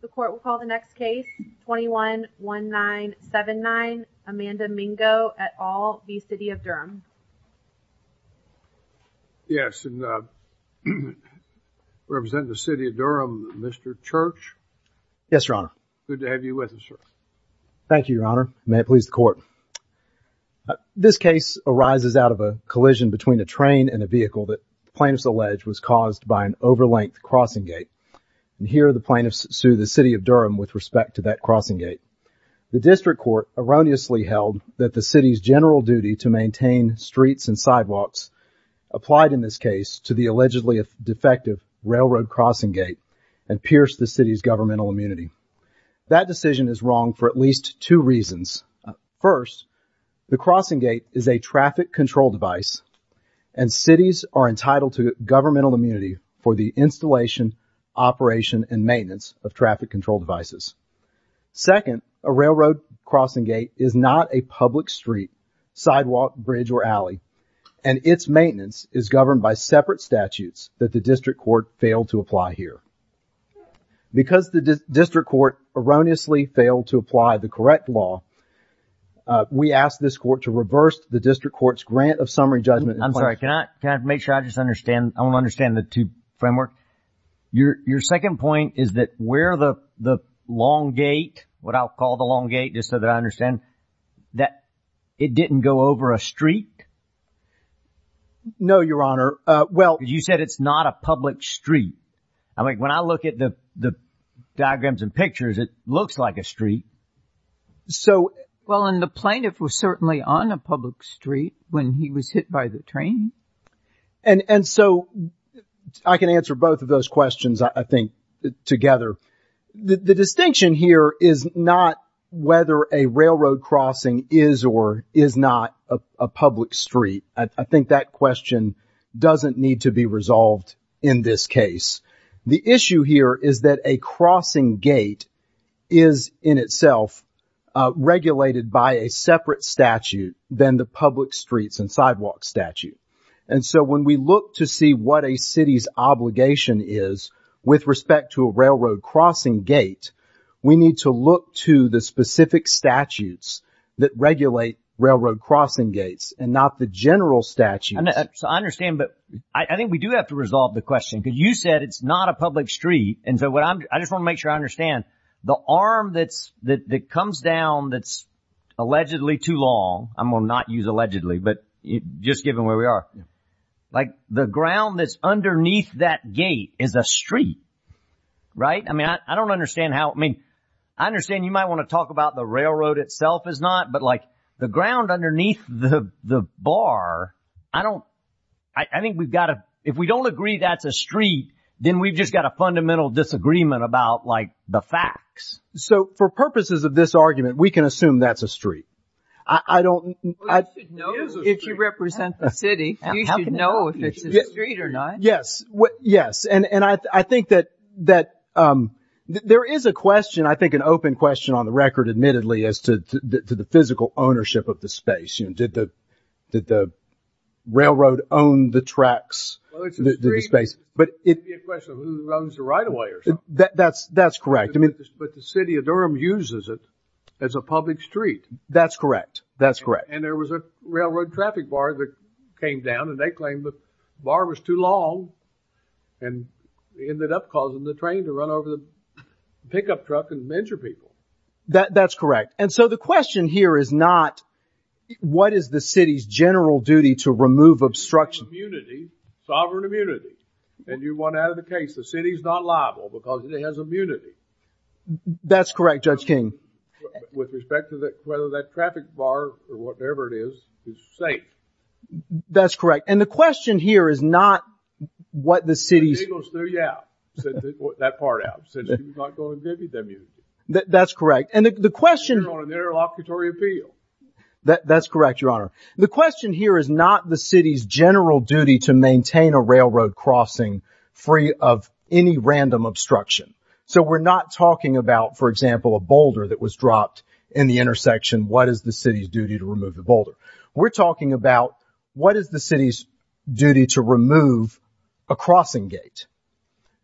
The court will call the next case, 21-1979, Amanda Mingo et al v. City of Durham. Yes, and uh, representing the City of Durham, Mr. Church. Yes, your honor. Good to have you with us, sir. Thank you, your honor. May it please the court. This case arises out of a collision between a train and a vehicle that plaintiffs allege was caused by an over-length crossing gate. And here the plaintiffs sue the City of Durham with respect to that crossing gate. The district court erroneously held that the city's general duty to maintain streets and sidewalks applied in this case to the allegedly defective railroad crossing gate and pierced the city's governmental immunity. That decision is wrong for at least two reasons. First, the crossing gate is a traffic control device and cities are entitled to governmental immunity for the installation, operation, and maintenance of traffic control devices. Second, a railroad crossing gate is not a public street, sidewalk, bridge, or alley and its maintenance is governed by separate statutes that the district court failed to apply here. Because the district court erroneously failed to apply the correct law, we ask this court to reverse the district court's grant of summary judgment. I'm sorry, can I make sure I just understand, I want to understand the two framework. Your second point is that where the long gate, what I'll call the long gate just so that I understand, that it didn't go over a street? No, your honor. You said it's not a public street. I mean, when I look at the diagrams and pictures, it looks like a street. Well, and the plaintiff was certainly on a public street when he was hit by the train. And so I can answer both of those questions, I think, together. The distinction here is not whether a railroad crossing is or is not a public street. I think that question doesn't need to be resolved in this case. The issue here is that a crossing gate is in itself regulated by a separate statute than the public streets and sidewalk statute. And so when we look to see what a city's obligation is with respect to a railroad crossing gate, we need to look to the specific statutes that regulate railroad crossing gates and not the general statutes. I understand, but I think we do have to resolve the question because you said it's not a public street. And so I just want to make sure I understand. The arm that comes down that's allegedly too long, I'm going to not use allegedly, but just given where we are, like the ground that's underneath that gate is a street, right? I mean, I don't understand how, I mean, I understand you might want to talk about the railroad itself is not, but, like, the ground underneath the bar, I don't, I think we've got to, if we don't agree that's a street, then we've just got a fundamental disagreement about, like, the facts. So for purposes of this argument, we can assume that's a street. I don't. If you represent the city, you should know if it's a street or not. Yes, yes, and I think that there is a question, I think an open question on the record, admittedly, as to the physical ownership of the space. Did the railroad own the tracks, the space? Well, it's a street, but it could be a question of who owns the right-of-way or something. That's correct. But the city of Durham uses it as a public street. That's correct. That's correct. And there was a railroad traffic bar that came down, and they claimed the bar was too long, and it ended up causing the train to run over the pickup truck and injure people. That's correct. And so the question here is not what is the city's general duty to remove obstruction. Immunity, sovereign immunity. And you want out of the case the city's not liable because it has immunity. That's correct, Judge King. With respect to whether that traffic bar or whatever it is is safe. That's correct. And the question here is not what the city's – The eagles threw you out, that part out, since you're not going to give me that immunity. That's correct. And the question – You're on an interlocutory appeal. That's correct, Your Honor. The question here is not the city's general duty to maintain a railroad crossing free of any random obstruction. So we're not talking about, for example, a boulder that was dropped in the intersection. What is the city's duty to remove the boulder? We're talking about what is the city's duty to remove a crossing gate.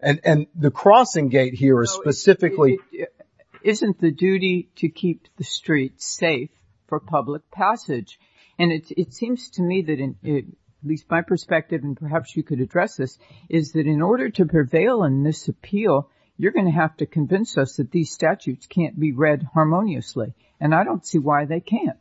And the crossing gate here is specifically – Isn't the duty to keep the streets safe for public passage. And it seems to me that, at least my perspective, and perhaps you could address this, is that in order to prevail in this appeal, you're going to have to convince us that these statutes can't be read harmoniously. And I don't see why they can't.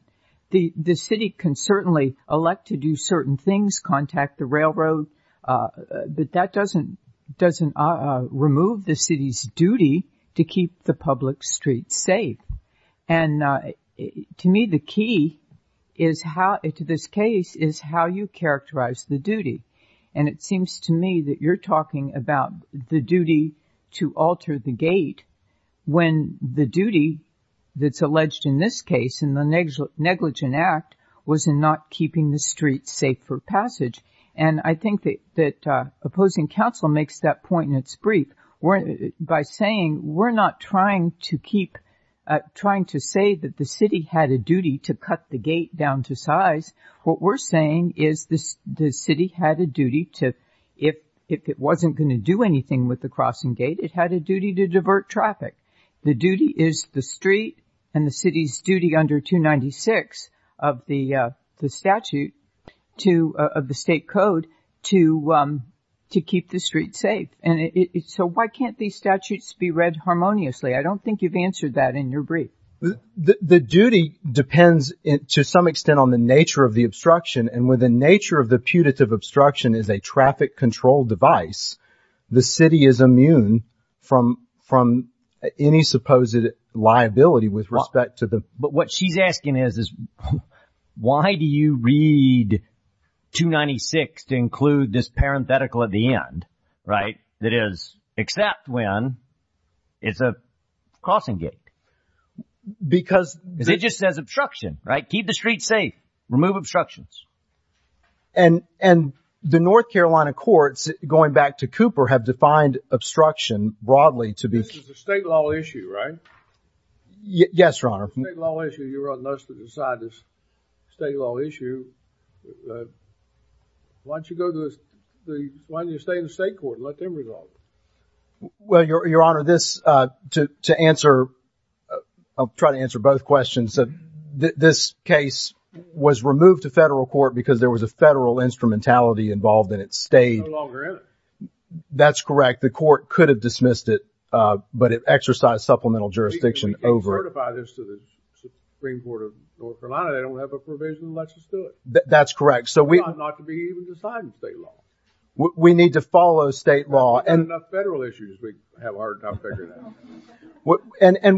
The city can certainly elect to do certain things, contact the railroad, but that doesn't remove the city's duty to keep the public streets safe. And to me, the key to this case is how you characterize the duty. And it seems to me that you're talking about the duty to alter the gate when the duty that's alleged in this case in the Negligent Act was in not keeping the streets safe for passage. And I think that opposing counsel makes that point in its brief. By saying we're not trying to keep – trying to say that the city had a duty to cut the gate down to size. What we're saying is the city had a duty to – if it wasn't going to do anything with the crossing gate, it had a duty to divert traffic. The duty is the street and the city's duty under 296 of the statute to – of the state code to keep the streets safe. And so why can't these statutes be read harmoniously? I don't think you've answered that in your brief. The duty depends to some extent on the nature of the obstruction. And when the nature of the putative obstruction is a traffic control device, the city is immune from any supposed liability with respect to the – But what she's asking is why do you read 296 to include this parenthetical at the end, right? That is, except when it's a crossing gate. Because – Because it just says obstruction, right? Keep the streets safe. Remove obstructions. And the North Carolina courts, going back to Cooper, have defined obstruction broadly to be – This is a state law issue, right? Yes, Your Honor. State law issue. You're running us to decide this state law issue. Why don't you go to the – why don't you stay in the state court and let them resolve it? Well, Your Honor, this – to answer – I'll try to answer both questions. This case was removed to federal court because there was a federal instrumentality involved in it. It's no longer in it. That's correct. The court could have dismissed it, but it exercised supplemental jurisdiction over – That's correct. So we – We need to follow state law. And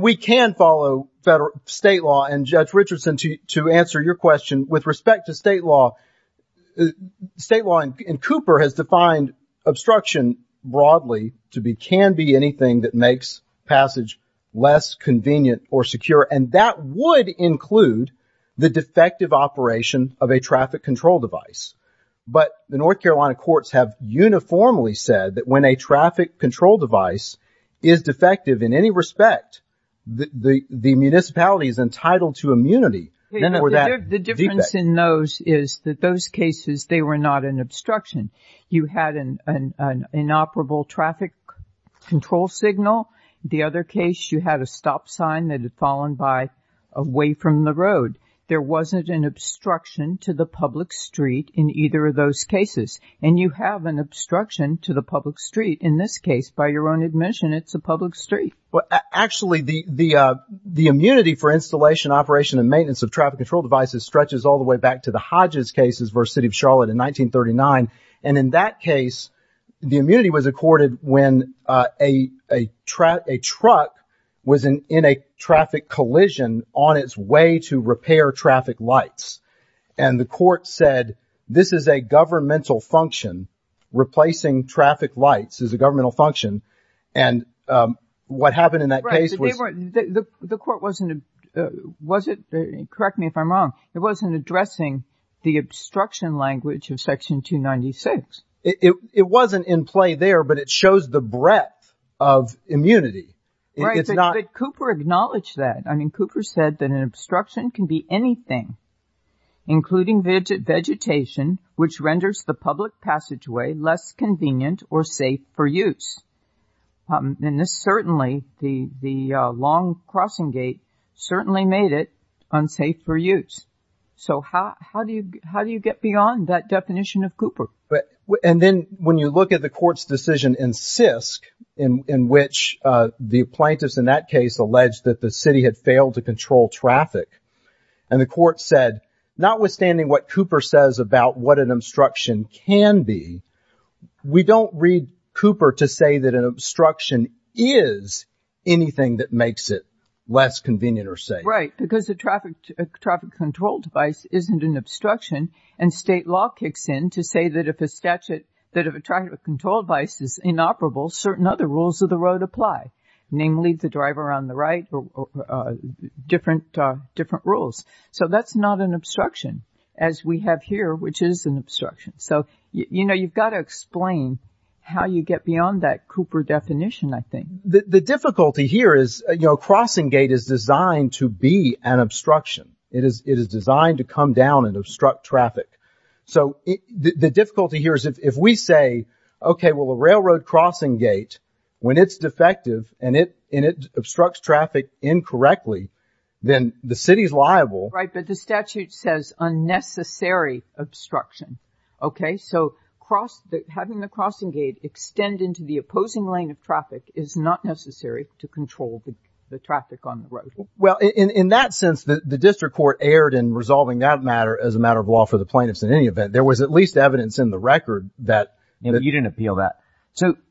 we can follow federal – state law. And, Judge Richardson, to answer your question, with respect to state law, state law in Cooper has defined obstruction broadly to be – can be anything that makes passage less convenient or secure. And that would include the defective operation of a traffic control device. But the North Carolina courts have uniformly said that when a traffic control device is defective in any respect, the municipality is entitled to immunity. The difference in those is that those cases, they were not an obstruction. You had an inoperable traffic control signal. The other case, you had a stop sign that had fallen by away from the road. There wasn't an obstruction to the public street in either of those cases. And you have an obstruction to the public street in this case. By your own admission, it's a public street. Well, actually, the immunity for installation, operation, and maintenance of traffic control devices stretches all the way back to the Hodges cases versus City of Charlotte in 1939. And in that case, the immunity was accorded when a truck was in a traffic collision on its way to repair traffic lights. And the court said, this is a governmental function. Replacing traffic lights is a governmental function. And what happened in that case was – The court wasn't – correct me if I'm wrong. It wasn't addressing the obstruction language of Section 296. It wasn't in play there, but it shows the breadth of immunity. Right, but Cooper acknowledged that. I mean, Cooper said that an obstruction can be anything, including vegetation, which renders the public passageway less convenient or safe for use. And this certainly, the long crossing gate, certainly made it unsafe for use. So how do you get beyond that definition of Cooper? And then when you look at the court's decision in Sisk, in which the plaintiffs in that case alleged that the city had failed to control traffic, and the court said, notwithstanding what Cooper says about what an obstruction can be, we don't read Cooper to say that an obstruction is anything that makes it less convenient or safe. Right, because a traffic control device isn't an obstruction. And state law kicks in to say that if a statute – that if a traffic control device is inoperable, certain other rules of the road apply. Namely, the driver on the right, different rules. So that's not an obstruction, as we have here, which is an obstruction. So, you know, you've got to explain how you get beyond that Cooper definition, I think. The difficulty here is, you know, a crossing gate is designed to be an obstruction. It is designed to come down and obstruct traffic. So the difficulty here is if we say, OK, well, a railroad crossing gate, when it's defective and it obstructs traffic incorrectly, then the city's liable. Right, but the statute says unnecessary obstruction. OK, so having the crossing gate extend into the opposing lane of traffic is not necessary to control the traffic on the road. Well, in that sense, the district court erred in resolving that matter as a matter of law for the plaintiffs in any event. There was at least evidence in the record that – You didn't appeal that.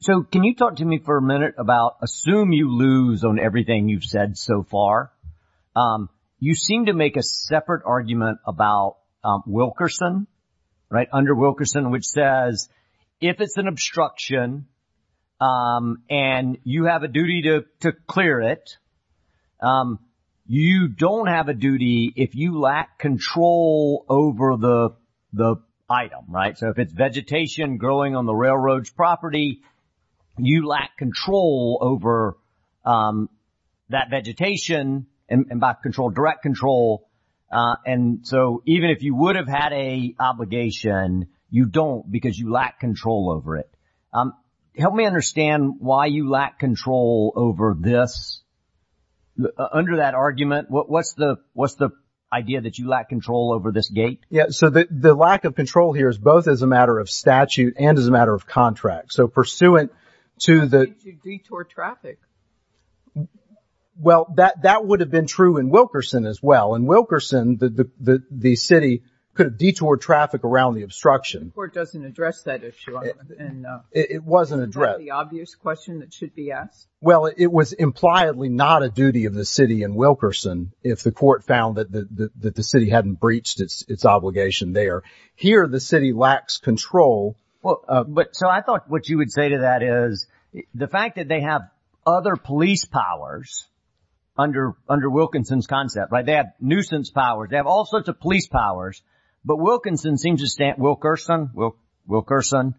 So can you talk to me for a minute about – assume you lose on everything you've said so far. You seem to make a separate argument about Wilkerson, right, under Wilkerson, which says if it's an obstruction and you have a duty to clear it, you don't have a duty if you lack control over the item, right? So if it's vegetation growing on the railroad's property, you lack control over that vegetation and by control, direct control. And so even if you would have had a obligation, you don't because you lack control over it. Help me understand why you lack control over this. Under that argument, what's the idea that you lack control over this gate? Yeah, so the lack of control here is both as a matter of statute and as a matter of contract. So pursuant to the – Did you detour traffic? Well, that would have been true in Wilkerson as well. In Wilkerson, the city could have detoured traffic around the obstruction. The court doesn't address that issue. It wasn't addressed. Isn't that the obvious question that should be asked? Well, it was impliedly not a duty of the city in Wilkerson if the court found that the city hadn't breached its obligation there. Here, the city lacks control. But so I thought what you would say to that is the fact that they have other police powers under Wilkinson's concept, right? They have nuisance powers. They have all sorts of police powers. But Wilkinson seems to stand – Wilkerson, Wilkerson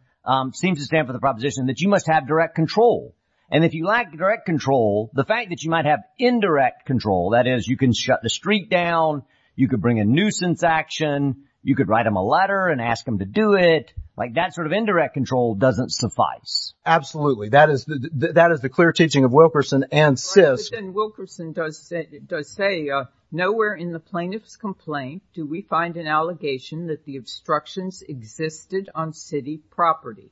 seems to stand for the proposition that you must have direct control. And if you lack direct control, the fact that you might have indirect control, that is you can shut the street down. You could bring a nuisance action. You could write them a letter and ask them to do it. Like that sort of indirect control doesn't suffice. Absolutely. That is the clear teaching of Wilkerson and Sisk. Wilkerson does say, nowhere in the plaintiff's complaint do we find an allegation that the obstructions existed on city property.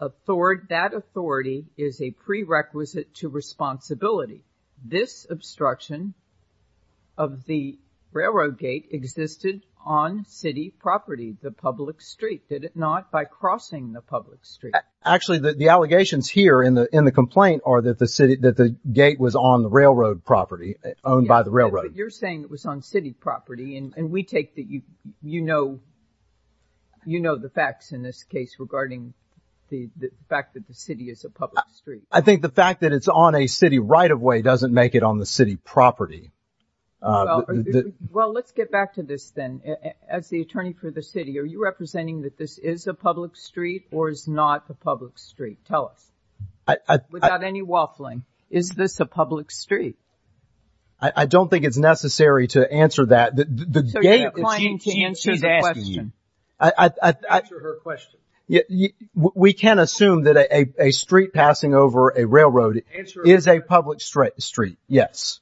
That authority is a prerequisite to responsibility. This obstruction of the railroad gate existed on city property, the public street, did it not, by crossing the public street? Actually, the allegations here in the complaint are that the city – that the gate was on railroad property, owned by the railroad. But you're saying it was on city property. And we take that you know – you know the facts in this case regarding the fact that the city is a public street. I think the fact that it's on a city right-of-way doesn't make it on the city property. Well, let's get back to this then. As the attorney for the city, are you representing that this is a public street or is not a public street? Tell us. Without any waffling, is this a public street? I don't think it's necessary to answer that. The gate – She's asking you. Answer her question. We can assume that a street passing over a railroad is a public street, yes.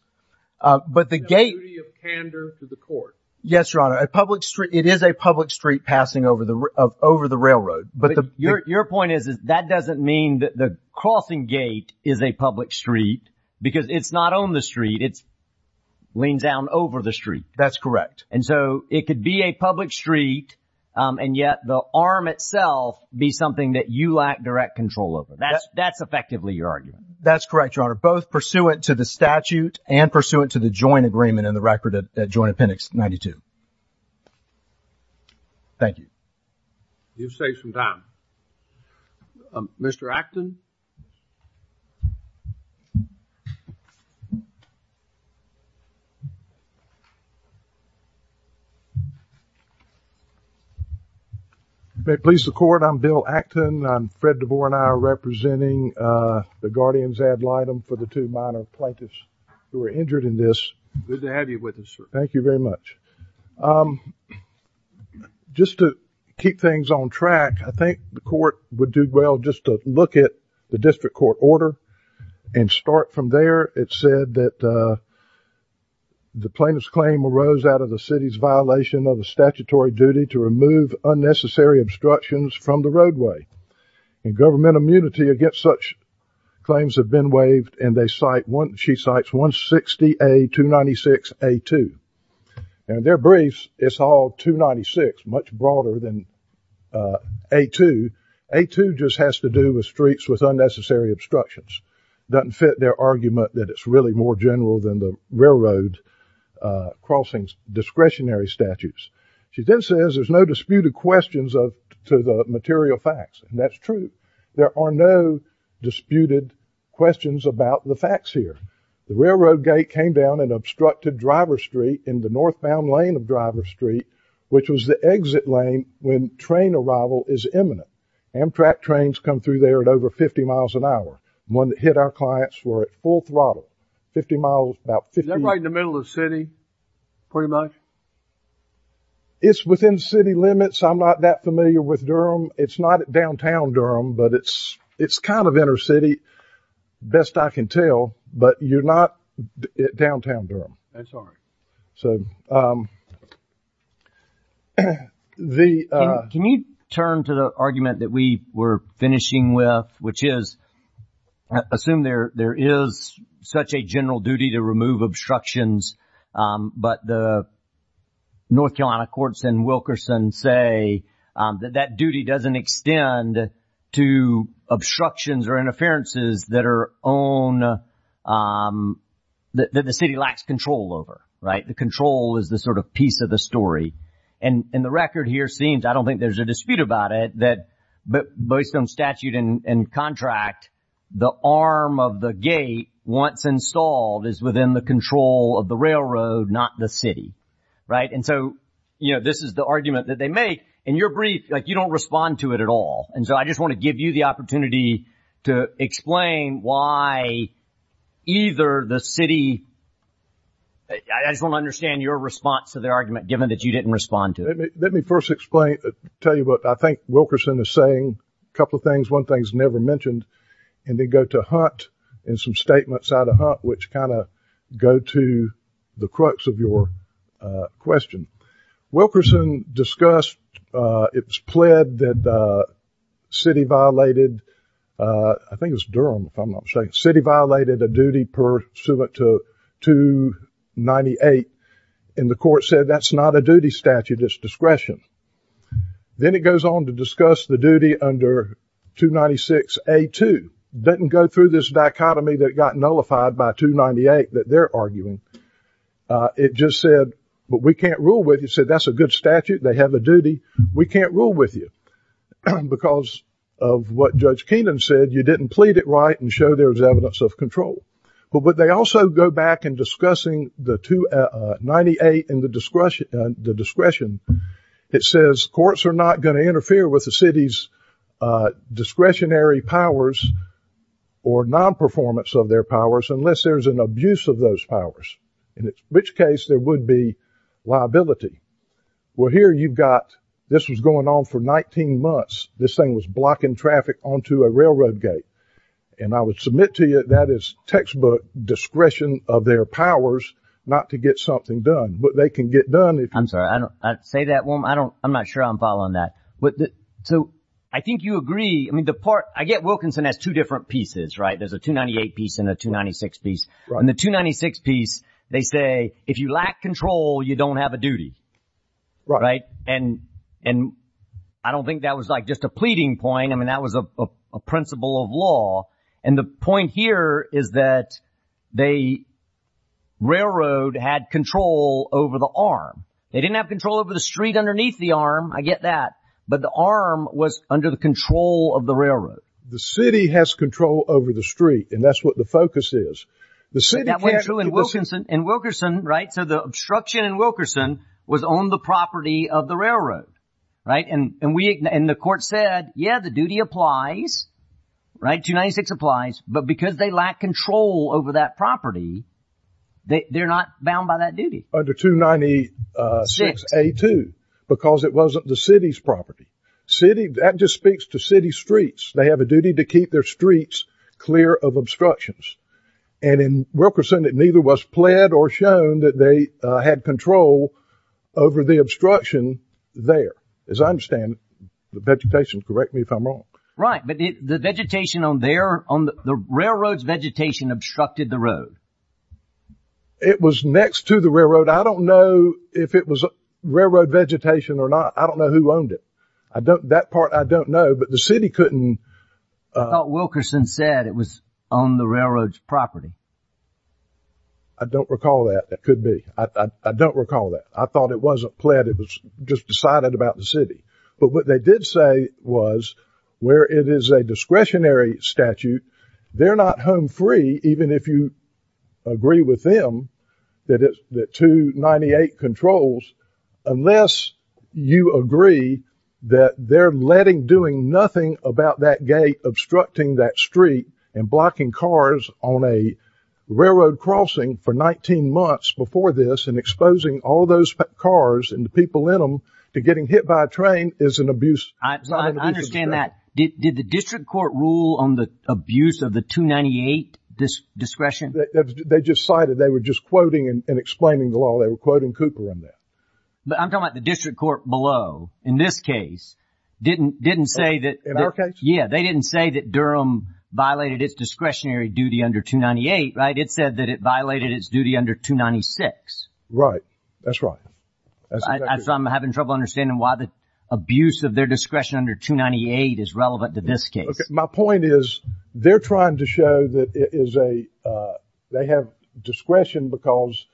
But the gate – The duty of candor to the court. Yes, Your Honor. A public street – it is a public street passing over the railroad. Your point is that that doesn't mean that the crossing gate is a public street because it's not on the street. It leans down over the street. That's correct. And so it could be a public street and yet the arm itself be something that you lack direct control over. That's effectively your argument. That's correct, Your Honor, both pursuant to the statute and pursuant to the joint agreement in the record at Joint Appendix 92. Thank you. You've saved some time. Mr. Acton? May it please the Court, I'm Bill Acton. I'm Fred DeVore and I am representing the guardians ad litem for the two minor plaintiffs who were injured in this. Good to have you with us, sir. Thank you very much. Just to keep things on track, I think the Court would do well just to look at the district court order and start from there. It said that the plaintiff's claim arose out of the city's violation of the statutory duty to remove unnecessary obstructions from the roadway. And government immunity against such claims have been waived and she cites 160A-296A-2. And their briefs, it's all 296, much broader than A-2. A-2 just has to do with streets with unnecessary obstructions. Doesn't fit their argument that it's really more general than the railroad crossings discretionary statutes. She then says there's no disputed questions to the material facts. And that's true. There are no disputed questions about the facts here. The railroad gate came down and obstructed Driver Street in the northbound lane of Driver Street, which was the exit lane when train arrival is imminent. Amtrak trains come through there at over 50 miles an hour. One that hit our clients were at full throttle. Is that right in the middle of the city, pretty much? It's within city limits. I'm not that familiar with Durham. It's not at downtown Durham, but it's kind of inner city, best I can tell. But you're not at downtown Durham. That's all right. Can you turn to the argument that we were finishing with, which is assume there is such a general duty to remove obstructions, but the North Carolina courts in Wilkerson say that that duty doesn't extend to obstructions or interferences that the city lacks control over, right? The control is the sort of piece of the story. And the record here seems, I don't think there's a dispute about it, but based on statute and contract, the arm of the gate, once installed, is within the control of the railroad, not the city, right? And so, you know, this is the argument that they make. In your brief, like, you don't respond to it at all. And so I just want to give you the opportunity to explain why either the city— I just want to understand your response to their argument, given that you didn't respond to it. Let me first explain—tell you what I think Wilkerson is saying. A couple of things. One thing's never mentioned, and then go to Hunt and some statements out of Hunt, which kind of go to the crux of your question. Wilkerson discussed—it was pled that the city violated—I think it was Durham, if I'm not mistaken. The city violated a duty pursuant to 298, and the court said that's not a duty statute. It's discretion. Then it goes on to discuss the duty under 296A2. Doesn't go through this dichotomy that got nullified by 298 that they're arguing. It just said, but we can't rule with you. It said that's a good statute. They have a duty. We can't rule with you because of what Judge Keenan said. You didn't plead it right and show there was evidence of control. But they also go back in discussing the 298 and the discretion. It says courts are not going to interfere with the city's discretionary powers or nonperformance of their powers unless there's an abuse of those powers, in which case there would be liability. Well, here you've got—this was going on for 19 months. This thing was blocking traffic onto a railroad gate, and I would submit to you that that is textbook discretion of their powers not to get something done. But they can get done. I'm sorry. I don't say that. I'm not sure I'm following that. So I think you agree. I mean, the part—I get Wilkinson has two different pieces, right? There's a 298 piece and a 296 piece. In the 296 piece, they say if you lack control, you don't have a duty, right? And I don't think that was like just a pleading point. I mean, that was a principle of law. And the point here is that the railroad had control over the arm. They didn't have control over the street underneath the arm. I get that. But the arm was under the control of the railroad. The city has control over the street, and that's what the focus is. That went through in Wilkerson, right? So the obstruction in Wilkerson was on the property of the railroad, right? And the court said, yeah, the duty applies, right? The 296 applies, but because they lack control over that property, they're not bound by that duty. Under 296A2, because it wasn't the city's property. City—that just speaks to city streets. They have a duty to keep their streets clear of obstructions. And in Wilkerson, it neither was pled or shown that they had control over the obstruction there. As I understand, the vegetation—correct me if I'm wrong. Right, but the vegetation on there—the railroad's vegetation obstructed the road. It was next to the railroad. I don't know if it was railroad vegetation or not. I don't know who owned it. That part I don't know, but the city couldn't— I thought Wilkerson said it was on the railroad's property. I don't recall that. It could be. I don't recall that. I thought it wasn't pled. It was just decided about the city. But what they did say was, where it is a discretionary statute, they're not home free, even if you agree with them that 298 controls, unless you agree that they're letting—doing nothing about that gate obstructing that street and blocking cars on a railroad crossing for 19 months before this and exposing all those cars and the people in them to getting hit by a train is an abuse. I understand that. Did the district court rule on the abuse of the 298 discretion? They just cited—they were just quoting and explaining the law. They were quoting Cooper on that. But I'm talking about the district court below, in this case, didn't say that— In our case? Yeah, they didn't say that Durham violated its discretionary duty under 298, right? It said that it violated its duty under 296. Right. That's right. I'm having trouble understanding why the abuse of their discretion under 298 is relevant to this case. My point is, they're trying to show that it is a—they have discretion because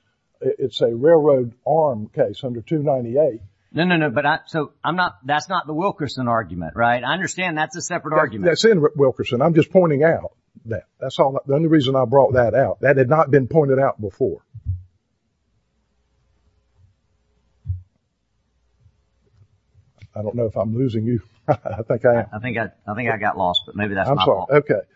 it's a railroad arm case under 298. No, no, no, but I—so I'm not—that's not the Wilkerson argument, right? I understand that's a separate argument. That's in Wilkerson. I'm just pointing out that. That's all—the only reason I brought that out. That had not been pointed out before. I don't know if I'm losing you. I think I am. I think I got lost, but maybe that's my fault. I'm sorry. Okay.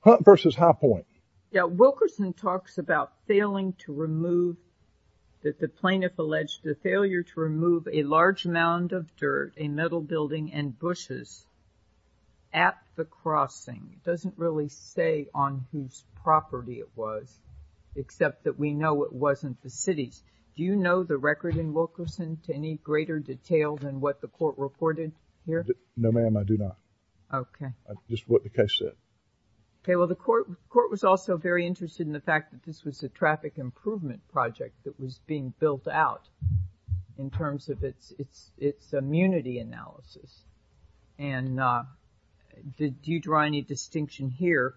Hunt versus Highpoint. Yeah, Wilkerson talks about failing to remove—that the plaintiff alleged the failure to remove a large mound of dirt, a metal building, and bushes at the crossing. It doesn't really say on whose property it was, except that we know it wasn't the city's. Do you know the record in Wilkerson to any greater detail than what the court reported here? No, ma'am, I do not. Okay. Just what the case said. Okay. Well, the court was also very interested in the fact that this was a traffic improvement project that was being built out in terms of its immunity analysis. And do you draw any distinction here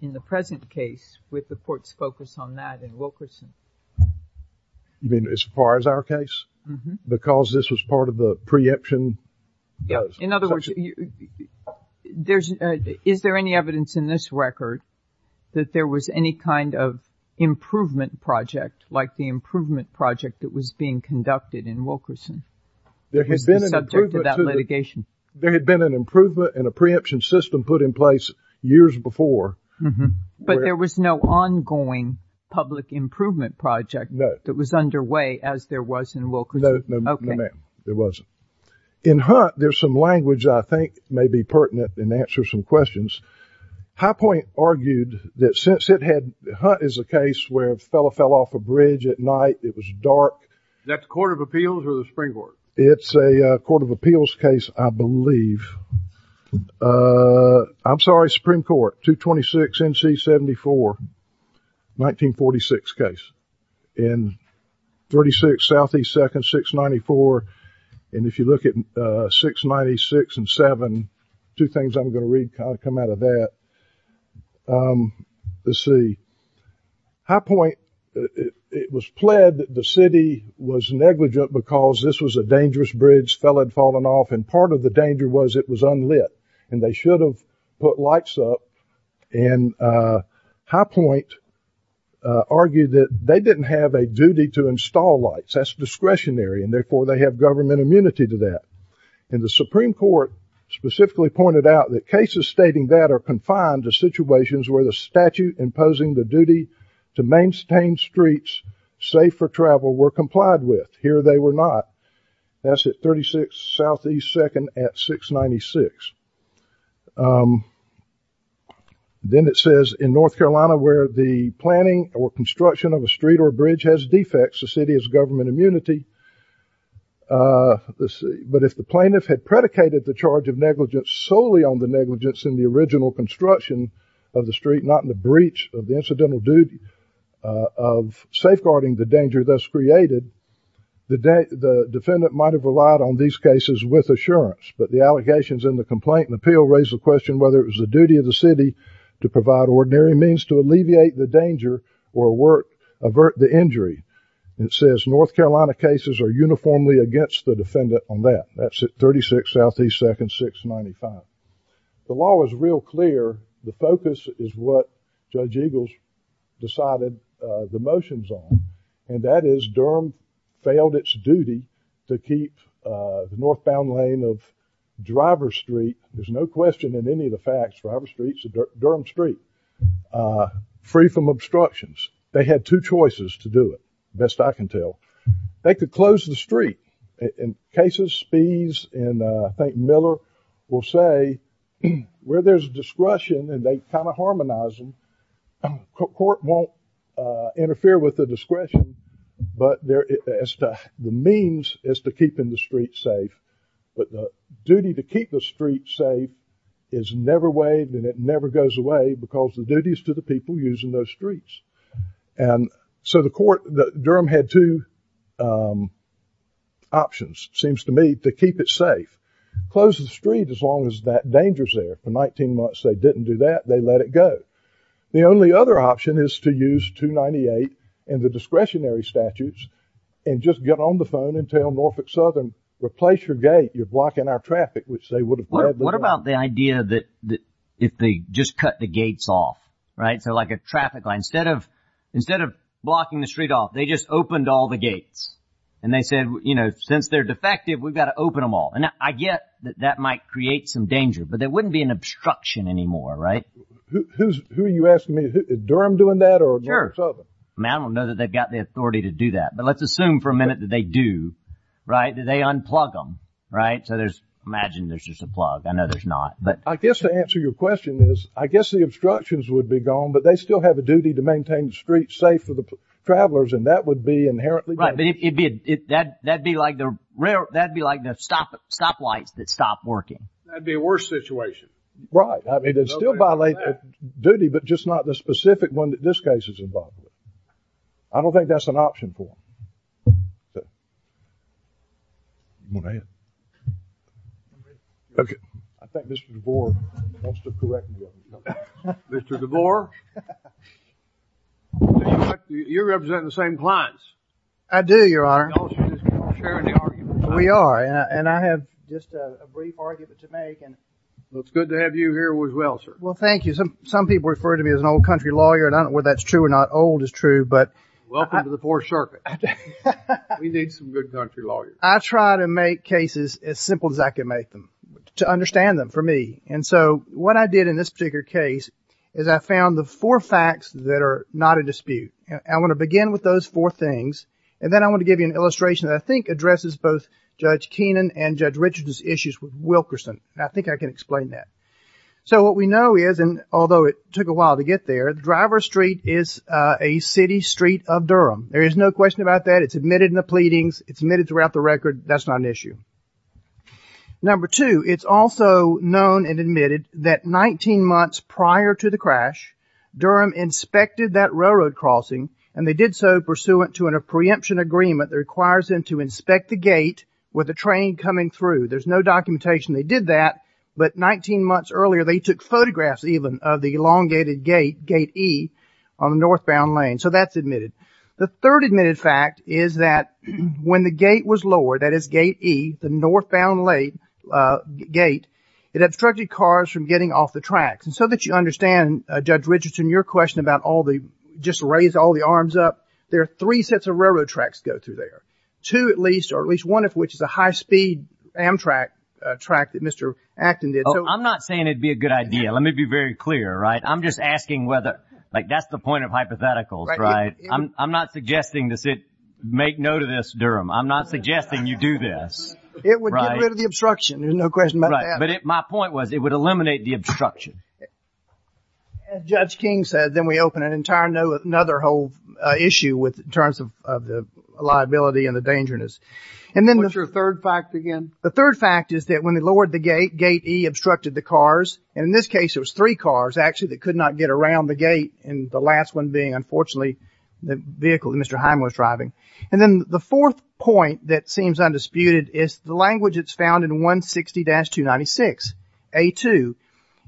in the present case with the court's focus on that in Wilkerson? You mean as far as our case? Because this was part of the preemption? In other words, is there any evidence in this record that there was any kind of improvement project like the improvement project that was being conducted in Wilkerson? There had been an improvement in a preemption system put in place years before. But there was no ongoing public improvement project that was underway as there was in Wilkerson? No, ma'am. Okay. There wasn't. In Hunt, there's some language I think may be pertinent and answer some questions. High Point argued that since it had – Hunt is a case where a fellow fell off a bridge at night. It was dark. Is that the Court of Appeals or the Supreme Court? It's a Court of Appeals case, I believe. I'm sorry, Supreme Court, 226 NC 74, 1946 case. And 36 SE 2nd 694. And if you look at 696 and 7, two things I'm going to read kind of come out of that. Let's see. High Point, it was pled that the city was negligent because this was a dangerous bridge. A fellow had fallen off, and part of the danger was it was unlit. And they should have put lights up. And High Point argued that they didn't have a duty to install lights. That's discretionary, and therefore, they have government immunity to that. And the Supreme Court specifically pointed out that cases stating that are confined to situations where the statute imposing the duty to maintain streets safe for travel were complied with. Here they were not. That's at 36 SE 2nd at 696. Then it says in North Carolina where the planning or construction of a street or bridge has defects, the city has government immunity. But if the plaintiff had predicated the charge of negligence solely on the negligence in the original construction of the street, not in the breach of the incidental duty of safeguarding the danger thus created, the defendant might have relied on these cases with assurance. But the allegations in the complaint and appeal raise the question whether it was the duty of the city to provide ordinary means to alleviate the danger or work, avert the injury. It says North Carolina cases are uniformly against the defendant on that. That's at 36 SE 2nd, 695. The law is real clear. The focus is what Judge Eagles decided the motions on, and that is Durham failed its duty to keep the northbound lane of Driver Street, there's no question in any of the facts, Driver Street's a Durham street, free from obstructions. They had two choices to do it, best I can tell. They could close the street. In cases, Spies and I think Miller will say where there's discretion and they kind of harmonize them, the court won't interfere with the discretion, but the means is to keep the street safe. But the duty to keep the street safe is never waived and it never goes away because the duty is to the people using those streets. And so the court, Durham had two options, seems to me, to keep it safe. Close the street as long as that danger's there. For 19 months they didn't do that. They let it go. The only other option is to use 298 and the discretionary statutes and just get on the phone and tell Norfolk Southern, replace your gate, you're blocking our traffic, which they would have gladly done. What about the idea that if they just cut the gates off, right? So like a traffic line, instead of blocking the street off, they just opened all the gates. And they said, you know, since they're defective, we've got to open them all. And I get that that might create some danger, but there wouldn't be an obstruction anymore, right? Who are you asking me, Durham doing that or Norfolk Southern? I don't know that they've got the authority to do that, but let's assume for a minute that they do, right, that they unplug them, right? So imagine there's just a plug. I know there's not. I guess to answer your question is I guess the obstructions would be gone, but they still have a duty to maintain the streets safe for the travelers, and that would be inherently bad. Right, but that would be like the stoplights that stop working. That would be a worse situation. Right. I mean, they'd still violate their duty, but just not the specific one that this case is involved with. I don't think that's an option for them. Okay. I think Mr. DeVore wants to correct me. Mr. DeVore, you're representing the same clients. I do, Your Honor. We all share in the argument. We are, and I have just a brief argument to make. Well, it's good to have you here as well, sir. Well, thank you. Some people refer to me as an old country lawyer, and I don't know whether that's true or not. Old is true. Welcome to the Fourth Circuit. We need some good country lawyers. I try to make cases as simple as I can make them to understand them for me, and so what I did in this particular case is I found the four facts that are not a dispute. I want to begin with those four things, and then I want to give you an illustration that I think addresses both Judge Keenan and Judge Richard's issues with Wilkerson. I think I can explain that. So what we know is, and although it took a while to get there, Driver Street is a city street of Durham. There is no question about that. It's admitted in the pleadings. It's admitted throughout the record. That's not an issue. Number two, it's also known and admitted that 19 months prior to the crash, Durham inspected that railroad crossing, and they did so pursuant to a preemption agreement that requires them to inspect the gate with a train coming through. There's no documentation they did that, but 19 months earlier they took photographs even of the elongated gate, gate E, on the northbound lane. So that's admitted. The third admitted fact is that when the gate was lowered, that is gate E, the northbound gate, it obstructed cars from getting off the tracks. And so that you understand, Judge Richardson, your question about all the just raise all the arms up, there are three sets of railroad tracks go through there, two at least, or at least one of which is a high-speed Amtrak track that Mr. Acton did. I'm not saying it would be a good idea. Let me be very clear, right? I'm just asking whether, like, that's the point of hypotheticals, right? I'm not suggesting to make note of this, Durham. I'm not suggesting you do this. It would get rid of the obstruction. There's no question about that. Right. But my point was it would eliminate the obstruction. As Judge King said, then we open another whole issue in terms of the liability and the dangerousness. What's your third fact again? The third fact is that when they lowered the gate, gate E obstructed the cars. And in this case it was three cars, actually, that could not get around the gate, and the last one being, unfortunately, the vehicle that Mr. Heim was driving. And then the fourth point that seems undisputed is the language that's found in 160-296, A2.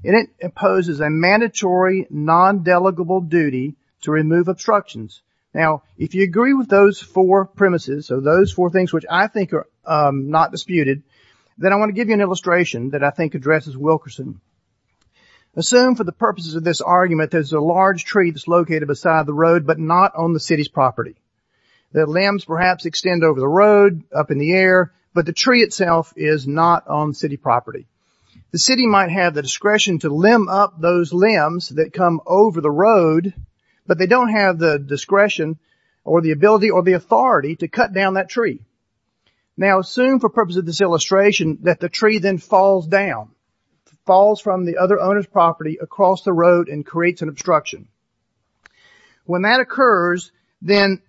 And it imposes a mandatory, non-delegable duty to remove obstructions. Now, if you agree with those four premises, or those four things which I think are not disputed, then I want to give you an illustration that I think addresses Wilkerson. Assume, for the purposes of this argument, there's a large tree that's located beside the road but not on the city's property. The limbs perhaps extend over the road, up in the air, but the tree itself is not on city property. The city might have the discretion to limb up those limbs that come over the road, but they don't have the discretion or the ability or the authority to cut down that tree. Now, assume, for purposes of this illustration, that the tree then falls down, falls from the other owner's property across the road and creates an obstruction. When that occurs, then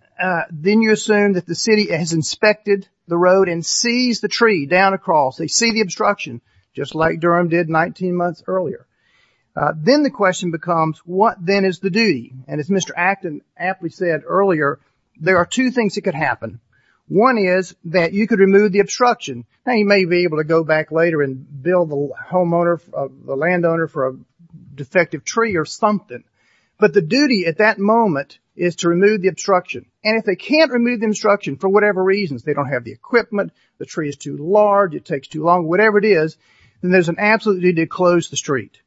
you assume that the city has inspected the road and sees the tree down across. They see the obstruction, just like Durham did 19 months earlier. Then the question becomes, what then is the duty? And as Mr. Acton aptly said earlier, there are two things that could happen. One is that you could remove the obstruction. Now, you may be able to go back later and bill the homeowner, the landowner for a defective tree or something, but the duty at that moment is to remove the obstruction. And if they can't remove the obstruction for whatever reasons, they don't have the equipment, the tree is too large, it takes too long, whatever it is, then there's an absolute duty to close the street.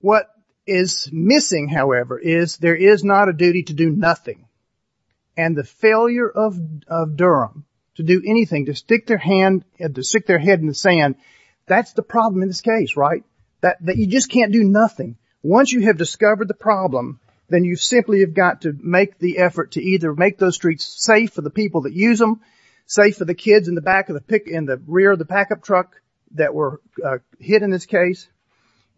What is missing, however, is there is not a duty to do nothing. And the failure of Durham to do anything, to stick their head in the sand, that's the problem in this case, right? That you just can't do nothing. Once you have discovered the problem, then you simply have got to make the effort to either make those streets safe for the people that use them, safe for the kids in the back of the pickup truck that were hit in this case.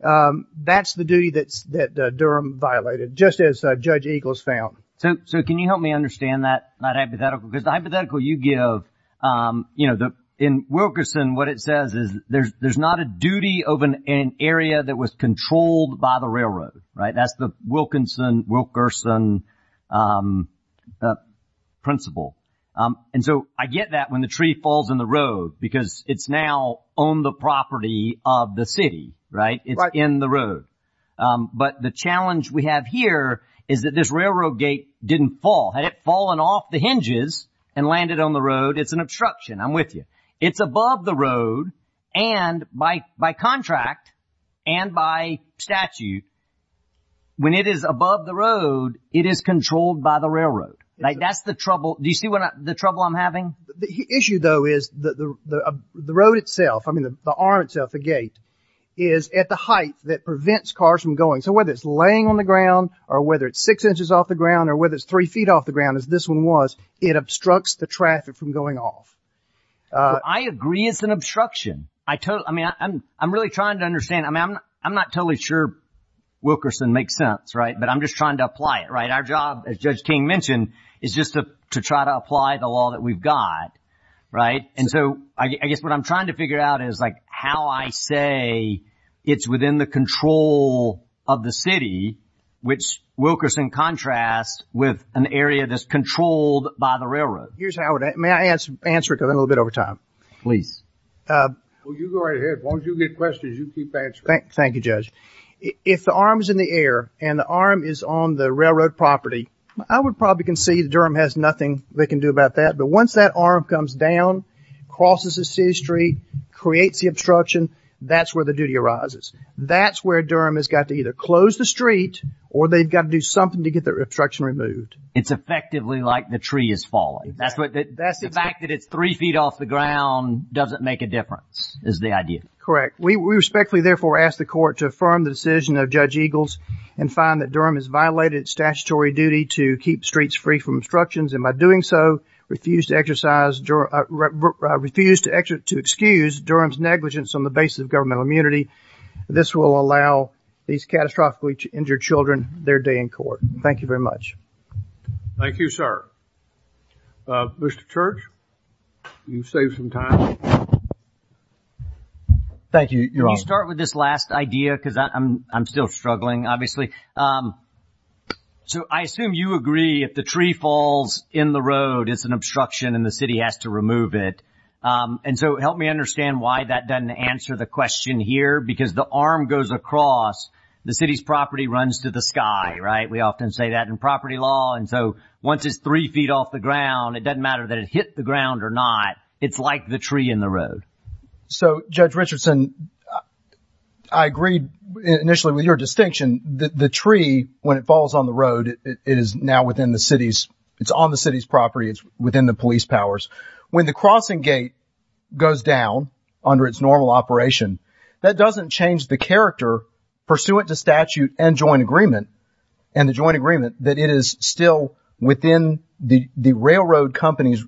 That's the duty that Durham violated, just as Judge Eagles found. So can you help me understand that hypothetical? Because the hypothetical you give, you know, in Wilkerson, what it says is there's not a duty of an area that was controlled by the railroad, right? That's the Wilkinson-Wilkerson principle. And so I get that when the tree falls in the road, because it's now on the property of the city, right? It's in the road. But the challenge we have here is that this railroad gate didn't fall. Had it fallen off the hinges and landed on the road, it's an obstruction. I'm with you. It's above the road, and by contract and by statute, when it is above the road, it is controlled by the railroad. That's the trouble. Do you see the trouble I'm having? The issue, though, is the road itself, I mean, the arm itself, the gate, is at the height that prevents cars from going. So whether it's laying on the ground or whether it's six inches off the ground or whether it's three feet off the ground, as this one was, it obstructs the traffic from going off. I agree it's an obstruction. I mean, I'm really trying to understand. I mean, I'm not totally sure Wilkerson makes sense, right? But I'm just trying to apply it, right? Our job, as Judge King mentioned, is just to try to apply the law that we've got, right? And so I guess what I'm trying to figure out is, like, how I say it's within the control of the city, which Wilkerson contrasts with an area that's controlled by the railroad. Here's how it is. May I answer it a little bit over time? Please. Well, you go right ahead. As long as you get questions, you keep answering. Thank you, Judge. If the arm is in the air and the arm is on the railroad property, I would probably concede Durham has nothing they can do about that. But once that arm comes down, crosses the city street, creates the obstruction, that's where the duty arises. That's where Durham has got to either close the street or they've got to do something to get the obstruction removed. It's effectively like the tree is falling. The fact that it's three feet off the ground doesn't make a difference, is the idea. Correct. We respectfully, therefore, ask the court to affirm the decision of Judge Eagles and find that Durham has violated its statutory duty to keep streets free from obstructions and by doing so, refuse to excuse Durham's negligence on the basis of governmental immunity. This will allow these catastrophically injured children their day in court. Thank you very much. Thank you, sir. Mr. Church, you've saved some time. Thank you, Your Honor. Can you start with this last idea because I'm still struggling, obviously. So I assume you agree if the tree falls in the road, it's an obstruction and the city has to remove it. And so help me understand why that doesn't answer the question here because the arm goes across, the city's property runs to the sky, right? We often say that in property law. And so once it's three feet off the ground, it doesn't matter that it hit the ground or not. It's like the tree in the road. So, Judge Richardson, I agreed initially with your distinction. The tree, when it falls on the road, it is now within the city's. It's on the city's property. It's within the police powers. When the crossing gate goes down under its normal operation, that doesn't change the character pursuant to statute and joint agreement and the joint agreement that it is still within the railroad company's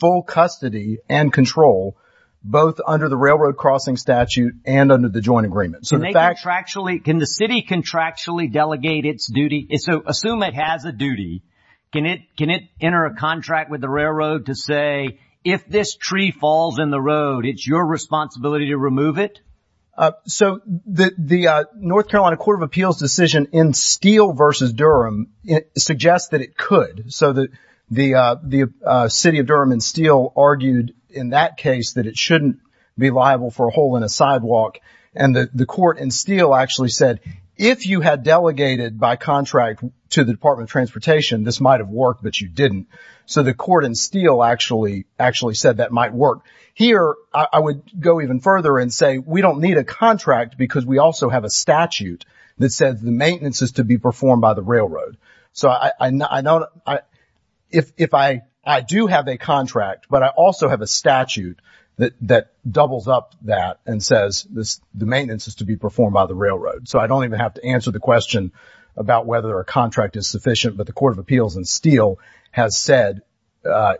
full custody and control, both under the railroad crossing statute and under the joint agreement. Can the city contractually delegate its duty? So assume it has a duty. Can it enter a contract with the railroad to say if this tree falls in the road, it's your responsibility to remove it? So the North Carolina Court of Appeals decision in Steele versus Durham suggests that it could. So the city of Durham in Steele argued in that case that it shouldn't be liable for a hole in a sidewalk. And the court in Steele actually said, if you had delegated by contract to the Department of Transportation, this might have worked, but you didn't. So the court in Steele actually said that might work. Here, I would go even further and say we don't need a contract because we also have a statute that says the maintenance is to be performed by the railroad. So I know if I do have a contract, but I also have a statute that doubles up that and says the maintenance is to be performed by the railroad. So I don't even have to answer the question about whether a contract is sufficient. But the Court of Appeals in Steele has said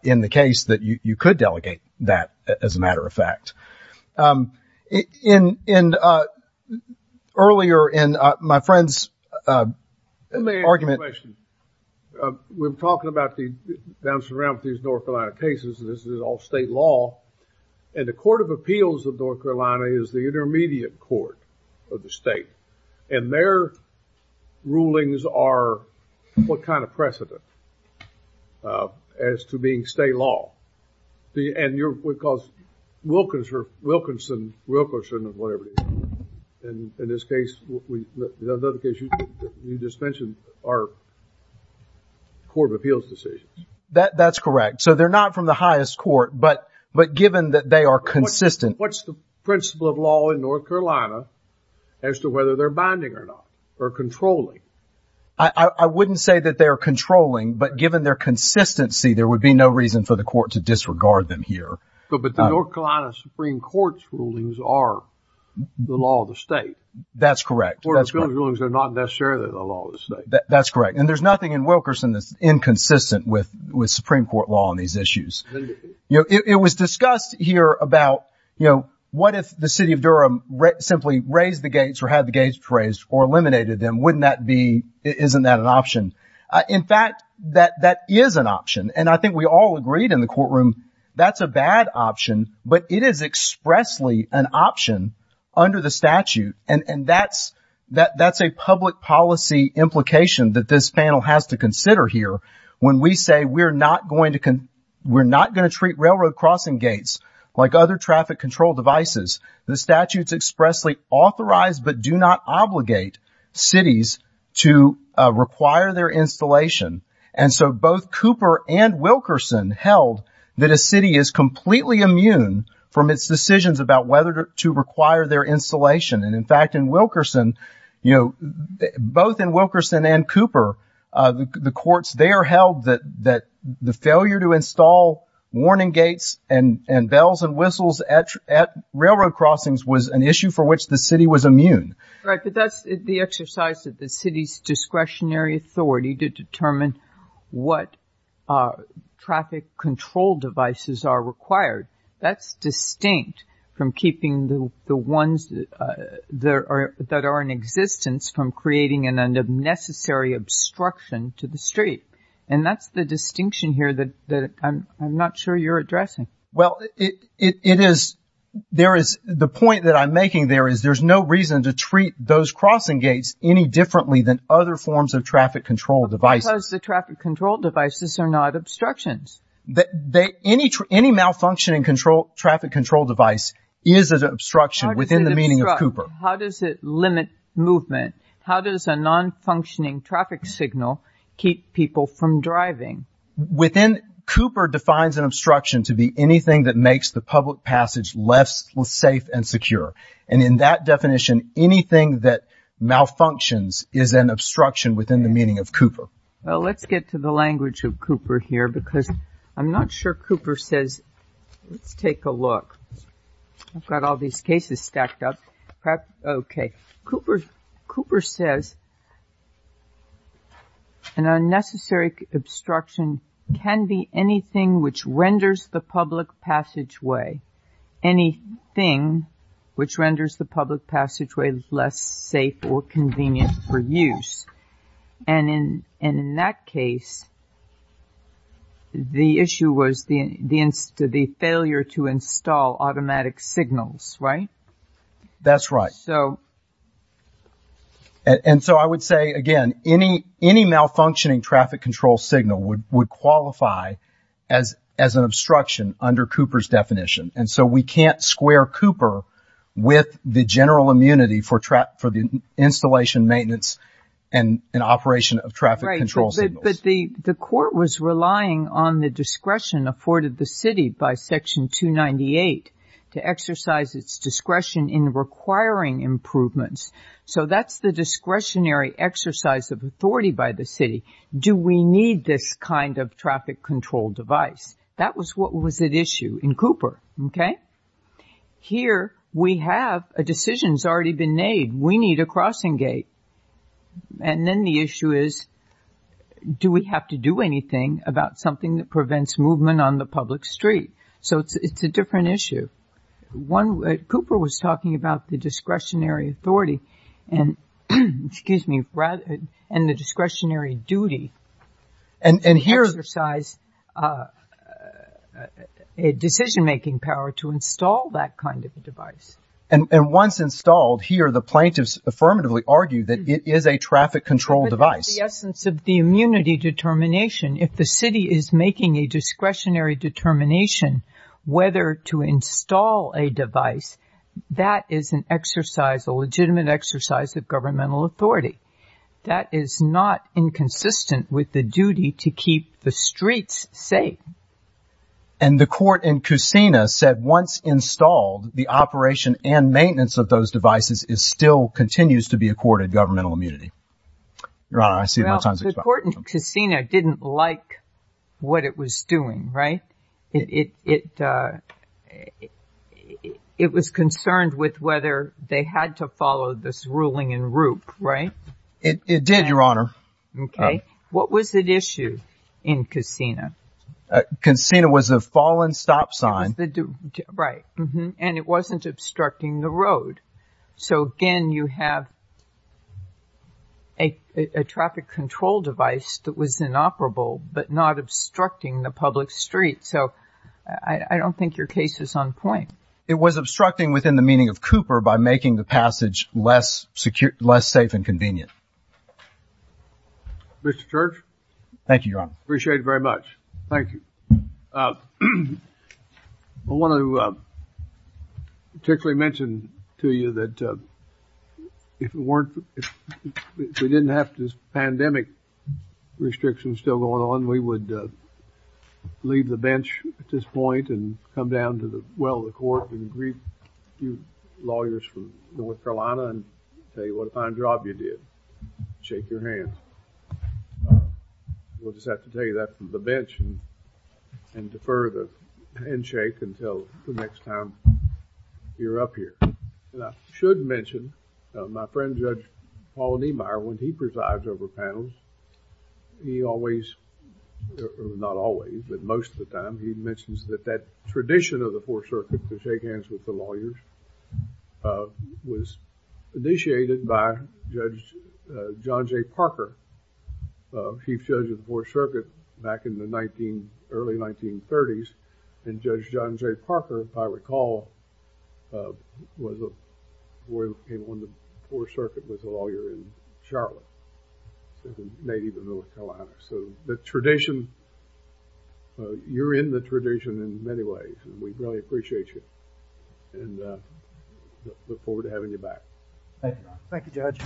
in the case that you could delegate that, as a matter of fact. And earlier in my friend's argument. Let me ask you a question. We're talking about the downstream ramp of these North Carolina cases. This is all state law. And the Court of Appeals of North Carolina is the intermediate court of the state. And their rulings are what kind of precedent as to being state law? Because Wilkinson, Wilkerson, or whatever it is. In this case, the other case you just mentioned are Court of Appeals decisions. That's correct. So they're not from the highest court. But given that they are consistent. What's the principle of law in North Carolina as to whether they're binding or not? Or controlling? I wouldn't say that they're controlling. But given their consistency, there would be no reason for the court to disregard them here. But the North Carolina Supreme Court's rulings are the law of the state. That's correct. The Court of Appeals rulings are not necessarily the law of the state. That's correct. And there's nothing in Wilkerson that's inconsistent with Supreme Court law on these issues. It was discussed here about what if the city of Durham simply raised the gates or had the gates raised or eliminated them. Wouldn't that be, isn't that an option? In fact, that is an option. And I think we all agreed in the courtroom that's a bad option. But it is expressly an option under the statute. And that's a public policy implication that this panel has to consider here. When we say we're not going to treat railroad crossing gates like other traffic control devices. The statute's expressly authorized but do not obligate cities to require their installation. And so both Cooper and Wilkerson held that a city is completely immune from its decisions about whether to require their installation. And in fact, in Wilkerson, you know, both in Wilkerson and Cooper, the courts there held that the failure to install warning gates and bells and whistles at railroad crossings was an issue for which the city was immune. Right, but that's the exercise of the city's discretionary authority to determine what traffic control devices are required. That's distinct from keeping the ones that are in existence from creating an unnecessary obstruction to the street. And that's the distinction here that I'm not sure you're addressing. Well, it is, there is, the point that I'm making there is there's no reason to treat those crossing gates any differently than other forms of traffic control devices. Because the traffic control devices are not obstructions. Any malfunctioning traffic control device is an obstruction within the meaning of Cooper. How does it limit movement? How does a non-functioning traffic signal keep people from driving? Cooper defines an obstruction to be anything that makes the public passage less safe and secure. And in that definition, anything that malfunctions is an obstruction within the meaning of Cooper. Well, let's get to the language of Cooper here because I'm not sure Cooper says, let's take a look. I've got all these cases stacked up. Okay. Cooper says an unnecessary obstruction can be anything which renders the public passageway, anything which renders the public passageway less safe or convenient for use. And in that case, the issue was the failure to install automatic signals, right? That's right. And so I would say, again, any malfunctioning traffic control signal would qualify as an obstruction under Cooper's definition. And so we can't square Cooper with the general immunity for the installation, maintenance, and operation of traffic control signals. Right. But the court was relying on the discretion afforded the city by Section 298 to exercise its discretion in requiring improvements. So that's the discretionary exercise of authority by the city. Do we need this kind of traffic control device? That was what was at issue in Cooper, okay? Here we have a decision that's already been made. We need a crossing gate. And then the issue is do we have to do anything about something that prevents movement on the public street? So it's a different issue. Cooper was talking about the discretionary authority and the discretionary duty. To exercise a decision-making power to install that kind of a device. And once installed, here the plaintiffs affirmatively argue that it is a traffic control device. But that's the essence of the immunity determination. If the city is making a discretionary determination whether to install a device, that is an exercise, a legitimate exercise of governmental authority. That is not inconsistent with the duty to keep the streets safe. And the court in Kusina said once installed, the operation and maintenance of those devices still continues to be accorded governmental immunity. Your Honor, I see no time to explain. Well, the court in Kusina didn't like what it was doing, right? It was concerned with whether they had to follow this ruling in Roop, right? It did, Your Honor. Okay. What was at issue in Kusina? Kusina was a fallen stop sign. Right. And it wasn't obstructing the road. So, again, you have a traffic control device that was inoperable but not obstructing the public street. So I don't think your case is on point. It was obstructing within the meaning of Cooper by making the passage less safe and convenient. Mr. Church? Thank you, Your Honor. Appreciate it very much. Thank you. I want to particularly mention to you that if we didn't have this pandemic restriction still going on, we would leave the bench at this point and come down to the well of the court and greet you lawyers from North Carolina and tell you what a fine job you did, shake your hands. We'll just have to take that from the bench and defer the handshake until the next time you're up here. And I should mention, my friend Judge Paul Niemeyer, when he presides over panels, he always, not always, but most of the time, he mentions that that tradition of the Fourth Circuit, to shake hands with the lawyers, was initiated by Judge John J. Parker, Chief Judge of the Fourth Circuit back in the early 1930s. And Judge John J. Parker, if I recall, was a lawyer who came on the Fourth Circuit, was a lawyer in Charlotte, a native of North Carolina. So the tradition, you're in the tradition in many ways, and we really appreciate you and look forward to having you back. Thank you, Your Honor. Thank you, Judge.